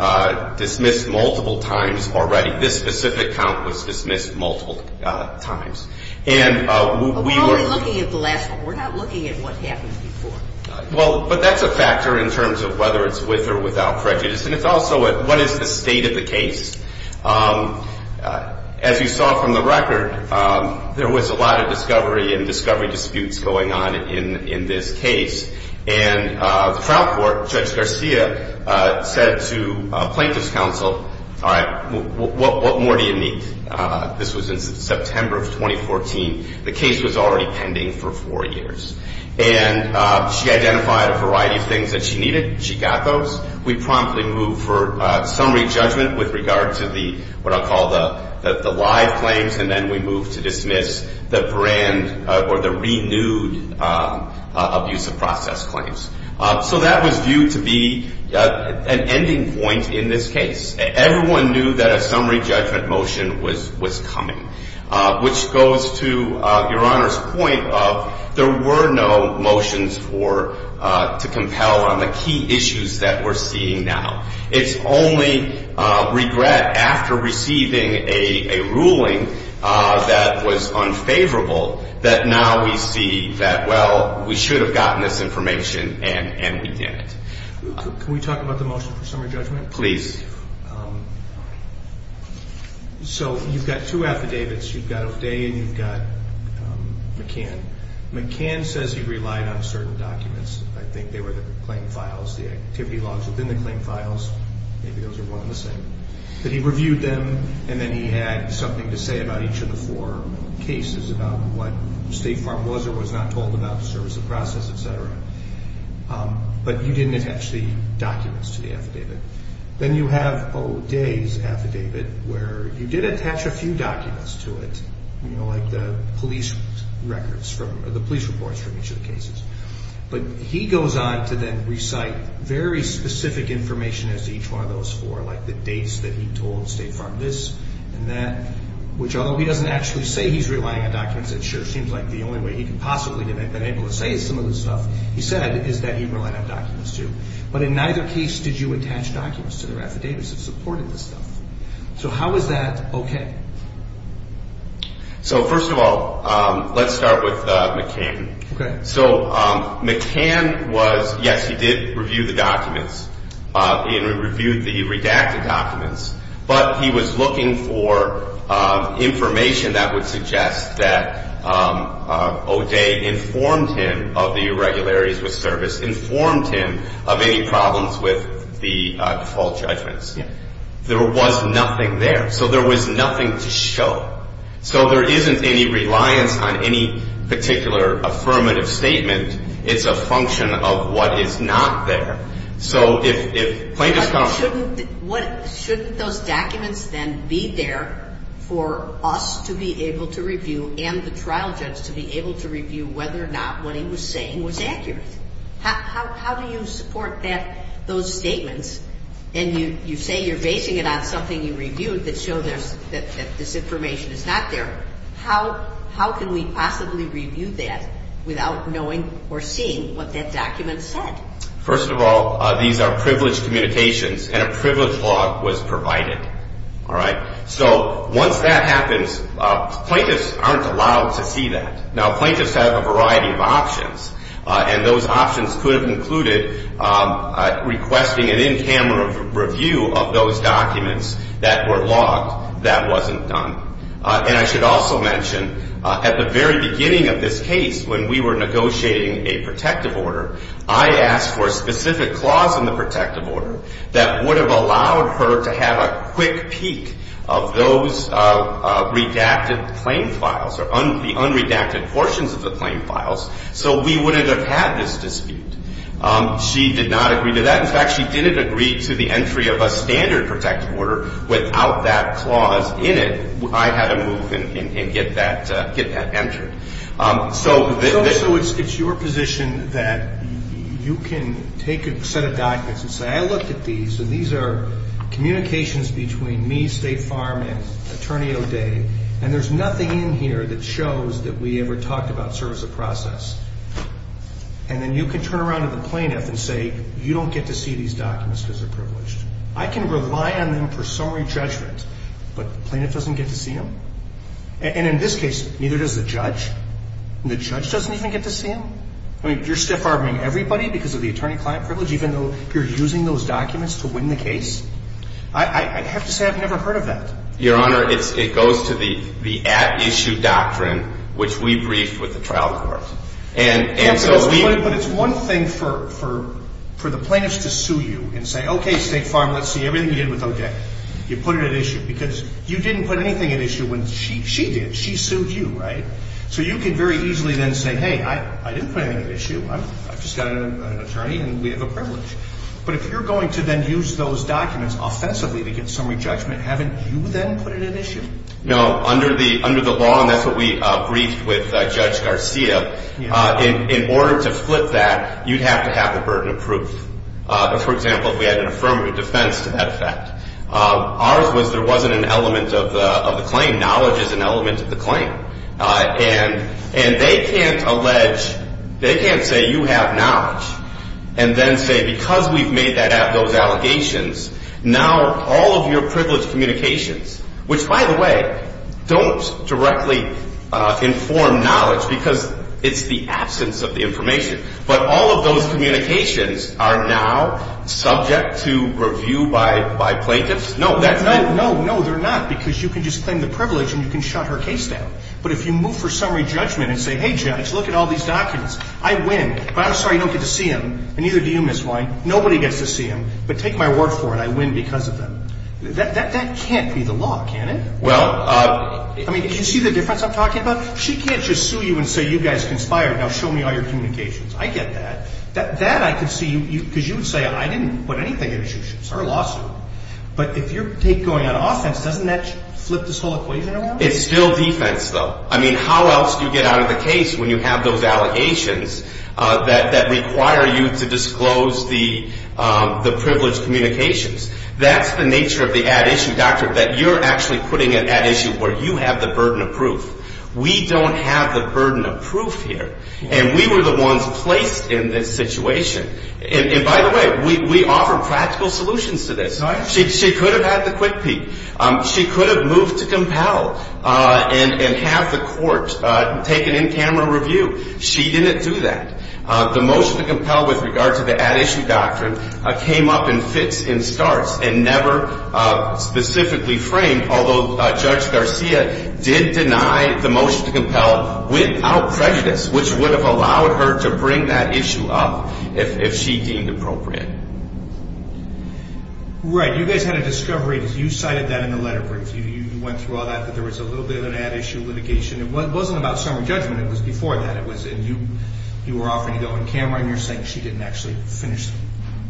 dismissed multiple times already. This specific count was dismissed multiple times. We're only looking at the last one. We're not looking at what happened before. Well, but that's a factor in terms of whether it's with or without prejudice. And it's also what is the state of the case. As you saw from the record, there was a lot of discovery and discovery disputes going on in this case. And the trial court, Judge Garcia, said to plaintiff's counsel, all right, what more do you need? This was in September of 2014. The case was already pending for four years. And she identified a variety of things that she needed. She got those. We promptly moved for summary judgment with regard to what I'll call the live claims, and then we moved to dismiss the brand or the renewed abuse of process claims. So that was viewed to be an ending point in this case. Everyone knew that a summary judgment motion was coming, which goes to Your Honor's point of there were no motions to compel on the key issues that we're seeing now. It's only regret after receiving a ruling that was unfavorable that now we see that, well, we should have gotten this information and we didn't. Can we talk about the motion for summary judgment? Please. So you've got two affidavits. You've got Ovede and you've got McCann. McCann says he relied on certain documents. I think they were the claim files, the activity logs within the claim files. Maybe those are one and the same. But he reviewed them, and then he had something to say about each of the four cases, about what State Farm was or was not told about the service of process, et cetera. But you didn't attach the documents to the affidavit. Then you have Ovede's affidavit, where you did attach a few documents to it, like the police reports for each of the cases. But he goes on to then recite very specific information as to each one of those four, like the dates that he told State Farm this and that, which although he doesn't actually say he's relying on documents, it sure seems like the only way he could possibly have been able to say some of this stuff he said is that he relied on documents too. But in neither case did you attach documents to their affidavits that supported this stuff. So how is that okay? So first of all, let's start with McCann. Okay. So McCann was, yes, he did review the documents. He reviewed the redacted documents. But he was looking for information that would suggest that Ovede informed him of the irregularities with service, informed him of any problems with the default judgments. There was nothing there. So there was nothing to show. So there isn't any reliance on any particular affirmative statement. It's a function of what is not there. Shouldn't those documents then be there for us to be able to review and the trial judge to be able to review whether or not what he was saying was accurate? How do you support those statements? And you say you're basing it on something you reviewed that showed that this information is not there. How can we possibly review that without knowing or seeing what that document said? First of all, these are privileged communications, and a privileged log was provided. All right. So once that happens, plaintiffs aren't allowed to see that. Now, plaintiffs have a variety of options, and those options could have included requesting an in-camera review of those documents that were logged. That wasn't done. And I should also mention, at the very beginning of this case, when we were negotiating a protective order, I asked for a specific clause in the protective order that would have allowed her to have a quick peek of those redacted claim files or the unredacted portions of the claim files so we wouldn't have had this dispute. She did not agree to that. In fact, she didn't agree to the entry of a standard protective order without that clause in it. I had to move and get that entered. So it's your position that you can take a set of documents and say, I looked at these, and these are communications between me, State Farm, and Attorney O'Day, and there's nothing in here that shows that we ever talked about service of process. And then you can turn around to the plaintiff and say, you don't get to see these documents because they're privileged. I can rely on them for summary judgment, but the plaintiff doesn't get to see them? And in this case, neither does the judge, and the judge doesn't even get to see them? I mean, you're stiff-harboring everybody because of the attorney-client privilege, even though you're using those documents to win the case? I have to say I've never heard of that. Your Honor, it goes to the at-issue doctrine, which we briefed with the trial court. But it's one thing for the plaintiff to sue you and say, okay, State Farm, let's see everything you did with O'Day. You put it at issue because you didn't put anything at issue when she did. She sued you, right? So you can very easily then say, hey, I didn't put anything at issue. I've just got an attorney, and we have a privilege. But if you're going to then use those documents offensively to get summary judgment, haven't you then put it at issue? No. Under the law, and that's what we briefed with Judge Garcia, in order to flip that, you'd have to have the burden of proof. For example, if we had an affirmative defense to that effect. Ours was there wasn't an element of the claim. Knowledge is an element of the claim. And they can't allege, they can't say you have knowledge and then say because we've made those allegations, now all of your privilege communications, which, by the way, don't directly inform knowledge because it's the absence of the information. But all of those communications are now subject to review by plaintiffs? No. No, they're not because you can just claim the privilege and you can shut her case down. But if you move for summary judgment and say, hey, Judge, look at all these documents. I win, but I'm sorry you don't get to see them, and neither do you, Ms. White. Nobody gets to see them, but take my word for it. I win because of them. That can't be the law, can it? Well, I mean, do you see the difference I'm talking about? She can't just sue you and say you guys conspired. Now show me all your communications. I get that. That I can see because you would say I didn't put anything in her lawsuit. But if you're going on offense, doesn't that flip this whole equation around? It's still defense, though. I mean, how else do you get out of the case when you have those allegations that require you to disclose the privilege communications? That's the nature of the ad issue, Doctor, that you're actually putting an ad issue where you have the burden of proof. We don't have the burden of proof here, and we were the ones placed in this situation. And by the way, we offered practical solutions to this. She could have had the quick peek. She could have moved to compel and have the court take an in-camera review. She didn't do that. The motion to compel with regard to the ad issue doctrine came up in fits and starts and never specifically framed, although Judge Garcia did deny the motion to compel without prejudice, which would have allowed her to bring that issue up if she deemed appropriate. Right. You guys had a discovery. You cited that in the letter brief. You went through all that, that there was a little bit of an ad issue litigation. It wasn't about summary judgment. It was before that. You were offering to go on camera, and you're saying she didn't actually finish the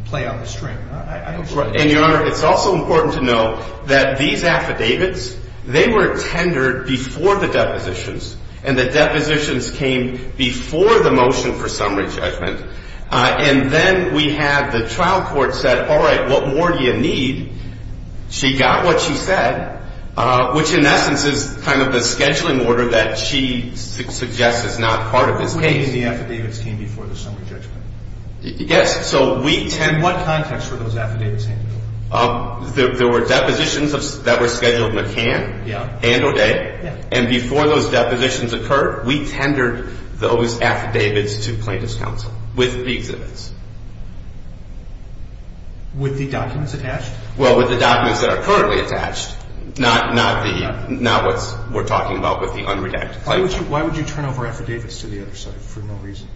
play on the string. And, Your Honor, it's also important to know that these affidavits, they were tendered before the depositions, and the depositions came before the motion for summary judgment. And then we had the trial court said, all right, what more do you need? She got what she said, which in essence is kind of the scheduling order that she suggests is not part of this case. You mean the affidavits came before the summary judgment? Yes. In what context were those affidavits handed over? There were depositions that were scheduled McCann and O'Day, and before those depositions occurred, we tendered those affidavits to plaintiff's counsel with the exhibits. With the documents attached? Well, with the documents that are currently attached, not what we're talking about with the unredacted claim. Why would you turn over affidavits to the other side for no reason?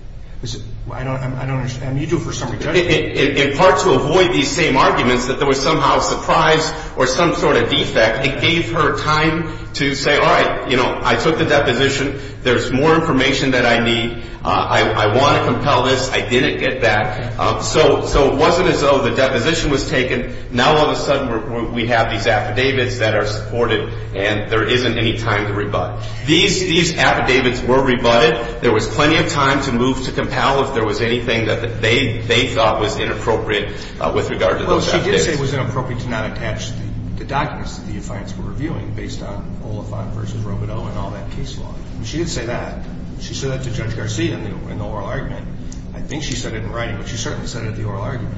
I don't understand. You do for summary judgment. In part to avoid these same arguments that there was somehow a surprise or some sort of defect, it gave her time to say, all right, you know, I took the deposition. There's more information that I need. I want to compel this. I didn't get that. So it wasn't as though the deposition was taken. Now all of a sudden we have these affidavits that are supported, and there isn't any time to rebut. These affidavits were rebutted. There was plenty of time to move to compel if there was anything that they thought was inappropriate with regard to those affidavits. Well, she did say it was inappropriate to not attach the documents that the defiance were reviewing based on Oliphant v. Robodeau and all that case law. She did say that. She said that to Judge Garcia in the oral argument. I think she said it in writing, but she certainly said it at the oral argument.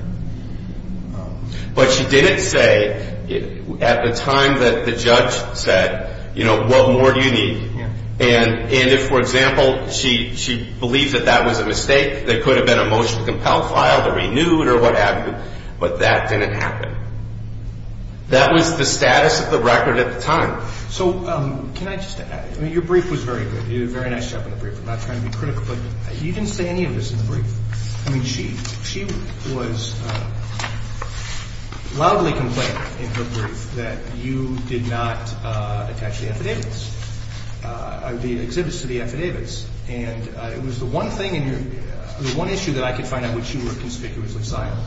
But she didn't say at the time that the judge said, you know, what more do you need? And if, for example, she believed that that was a mistake, there could have been a motion to compel filed or renewed or what have you, but that didn't happen. That was the status of the record at the time. So can I just add? I mean, your brief was very good. You did a very nice job in the brief. I'm not trying to be critical, but you didn't say any of this in the brief. I mean, she was loudly complaining in her brief that you did not attach the affidavits, the exhibits to the affidavits. And it was the one thing in your – the one issue that I could find out which you were conspicuously silent.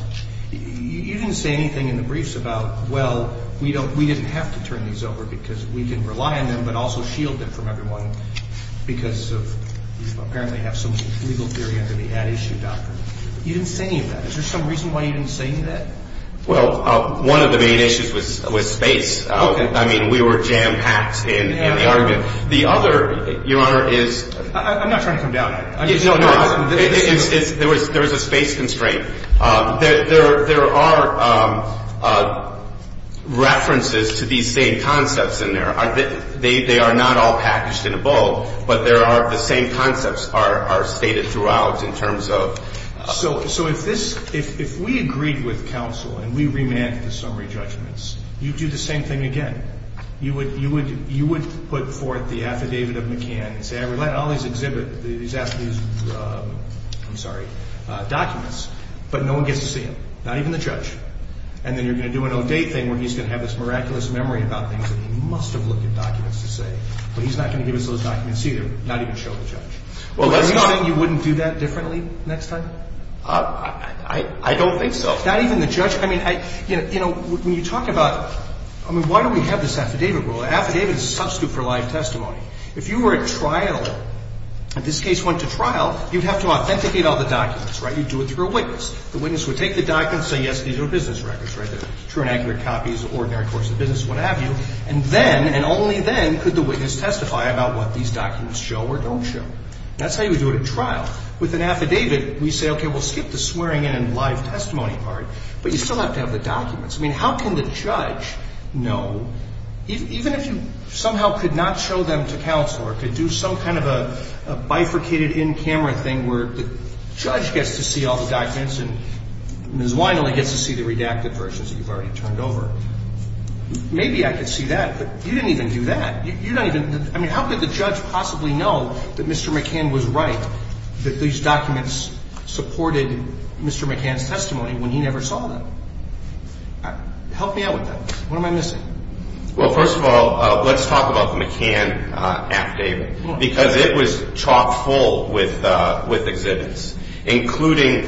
You didn't say anything in the briefs about, well, we didn't have to turn these over because we can rely on them and also shield them from everyone because you apparently have some legal theory under the ad issue doctrine. You didn't say any of that. Is there some reason why you didn't say any of that? Well, one of the main issues was space. Okay. I mean, we were jam-packed in the argument. The other, Your Honor, is – I'm not trying to come down on you. No, no. There was a space constraint. There are references to these same concepts in there. They are not all packaged in a bowl, but there are – the same concepts are stated throughout in terms of – So if this – if we agreed with counsel and we remanded the summary judgments, you'd do the same thing again. You would put forth the affidavit of McCann and say, we're letting all these exhibit these – I'm sorry – documents, but no one gets to see them, not even the judge. And then you're going to do an O'Day thing where he's going to have this miraculous memory about things that he must have looked at documents to say, but he's not going to give us those documents either, not even show the judge. Well, that's not – Are you saying you wouldn't do that differently next time? I don't think so. Not even the judge? I mean, you know, when you talk about – I mean, why do we have this affidavit rule? An affidavit is a substitute for live testimony. If you were at trial, and this case went to trial, you'd have to authenticate all the documents, right? You'd do it through a witness. The witness would take the documents and say, yes, these are business records, right? They're true and accurate copies, ordinary course of business, what have you. And then, and only then, could the witness testify about what these documents show or don't show. That's how you would do it at trial. With an affidavit, we say, okay, we'll skip the swearing in and live testimony part, but you still have to have the documents. I mean, how can the judge know, even if you somehow could not show them to counsel or could do some kind of a bifurcated in-camera thing where the judge gets to see all the documents and Ms. Wineley gets to see the redacted versions that you've already turned over. Maybe I could see that, but you didn't even do that. You don't even – I mean, how could the judge possibly know that Mr. McCann was right, that these documents supported Mr. McCann's testimony when he never saw them? Help me out with that. What am I missing? Well, first of all, let's talk about the McCann affidavit, because it was chock-full with exhibits, including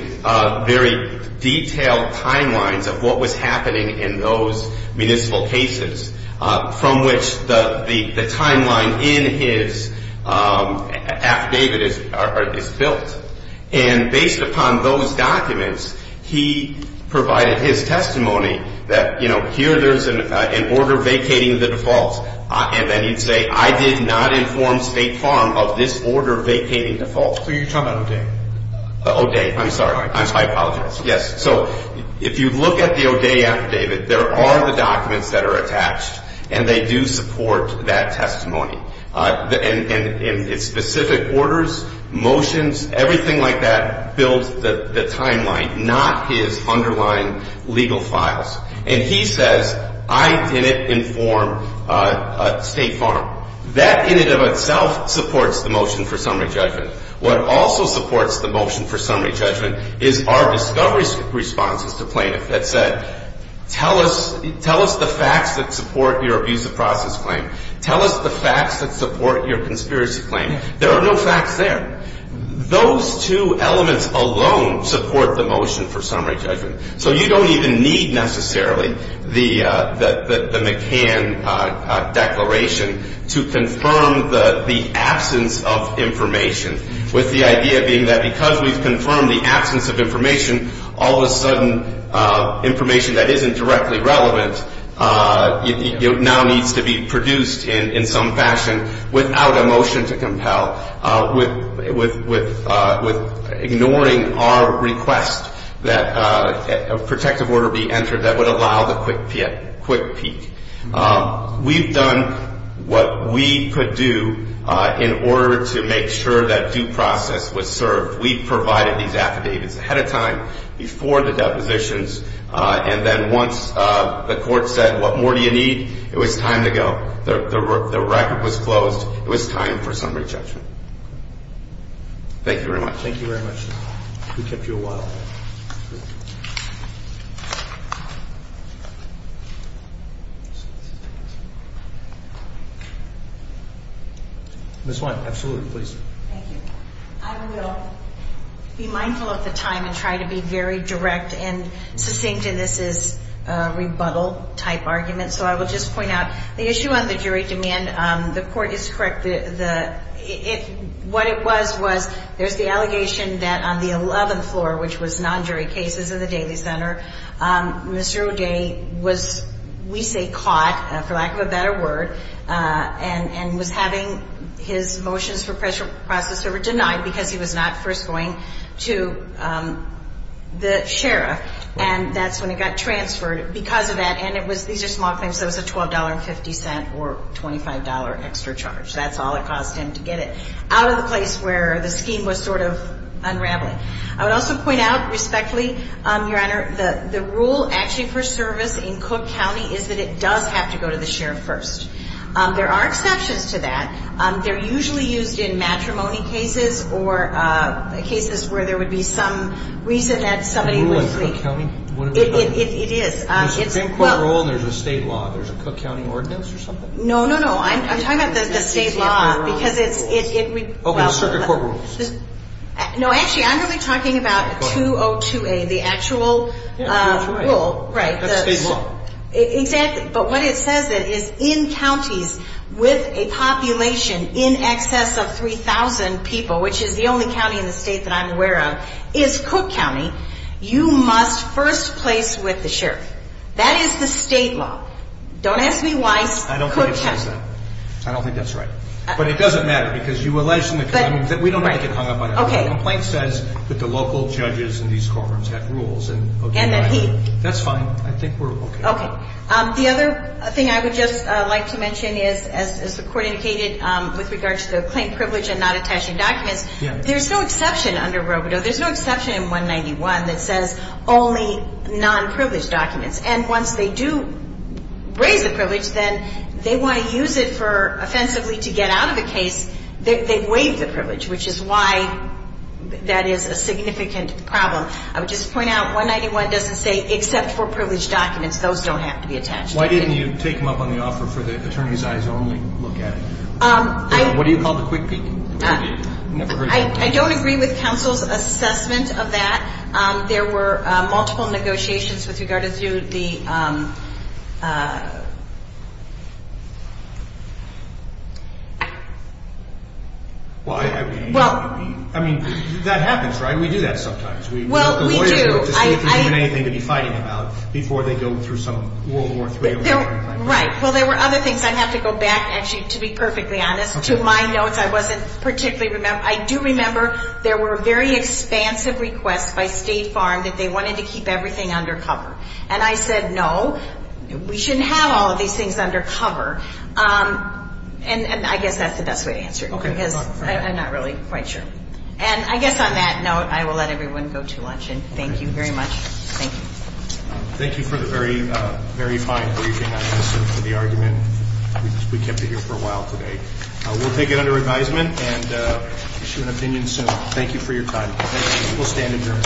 very detailed timelines of what was happening in those municipal cases from which the timeline in his affidavit is built. And based upon those documents, he provided his testimony that, you know, here there's an order vacating the defaults. And then he'd say, I did not inform State Farm of this order vacating defaults. So you're talking about O'Day. O'Day. I'm sorry. I apologize. That's all right. Yes. So if you look at the O'Day affidavit, there are the documents that are attached, and they do support that testimony. And it's specific orders, motions, everything like that builds the timeline, not his underlying legal files. And he says, I didn't inform State Farm. That in and of itself supports the motion for summary judgment. What also supports the motion for summary judgment is our discovery responses to plaintiff that said, tell us the facts that support your abuse of process claim. Tell us the facts that support your conspiracy claim. There are no facts there. Those two elements alone support the motion for summary judgment. So you don't even need necessarily the McCann declaration to confirm the absence of information, with the idea being that because we've confirmed the absence of information, all of a sudden information that isn't directly relevant now needs to be produced in some fashion without a motion to compel, with ignoring our request that a protective order be entered that would allow the quick peek. We've done what we could do in order to make sure that due process was served. We've provided these affidavits ahead of time, before the depositions, and then once the court said, what more do you need? It was time to go. The record was closed. It was time for summary judgment. Thank you very much. Thank you very much. We kept you awhile. Ms. White, absolutely, please. Thank you. I will be mindful of the time and try to be very direct and succinct in this rebuttal-type argument. So I will just point out the issue on the jury demand. The court is correct. What it was was there's the allegation that on the 11th floor, which was non-jury cases in the Daly Center, Mr. O'Day was, we say, caught, for lack of a better word, and was having his motions for process over denied because he was not first going to the sheriff. And that's when it got transferred because of that. And these are small claims, so it was a $12.50 or $25 extra charge. That's all it cost him to get it out of the place where the scheme was sort of unraveling. I would also point out respectfully, Your Honor, the rule actually for service in Cook County is that it does have to go to the sheriff first. There are exceptions to that. They're usually used in matrimony cases or cases where there would be some reason that somebody would think. A rule in Cook County? It is. There's a Supreme Court rule and there's a state law. There's a Cook County ordinance or something? No, no, no. I'm talking about the state law because it's, well. Okay. Circuit court rules. No, actually, I'm really talking about 202A, the actual rule. Yeah, that's right. Right. That's state law. Exactly. But what it says is in counties with a population in excess of 3,000 people, which is the only county in the state that I'm aware of, is Cook County, you must first place with the sheriff. That is the state law. Don't ask me why Cook County. I don't think it says that. I don't think that's right. But it doesn't matter because you alleged in the county. We don't want to get hung up on that. Okay. The complaint says that the local judges in these courtrooms have rules. And that he. That's fine. I think we're okay. Okay. The other thing I would just like to mention is, as the Court indicated with regard to the claim privilege and not attaching documents, there's no exception under Robido. There's no exception in 191 that says only non-privileged documents. And once they do raise the privilege, then they want to use it for offensively to get out of the case. They waive the privilege, which is why that is a significant problem. I would just point out, 191 doesn't say except for privileged documents. Those don't have to be attached. Why didn't you take them up on the offer for the attorney's eyes only look at it? What do you call the quick peek? I don't agree with counsel's assessment of that. There were multiple negotiations with regard to the. Well, I mean, that happens, right? We do that sometimes. Well, we do. The lawyer doesn't have anything to be fighting about before they go through some World War III. Right. Well, there were other things. I'd have to go back, actually, to be perfectly honest. To my notes, I wasn't particularly. I do remember there were very expansive requests by State Farm that they wanted to keep everything under cover. And I said, no, we shouldn't have all of these things under cover. And I guess that's the best way to answer it. Okay. Because I'm not really quite sure. And I guess on that note, I will let everyone go to lunch. And thank you very much. Thank you. Thank you for the very, very fine briefing. I listened to the argument. We kept it here for a while today. We'll take it under advisement and issue an opinion soon. Thank you for your time. Thank you. We'll stand adjourned.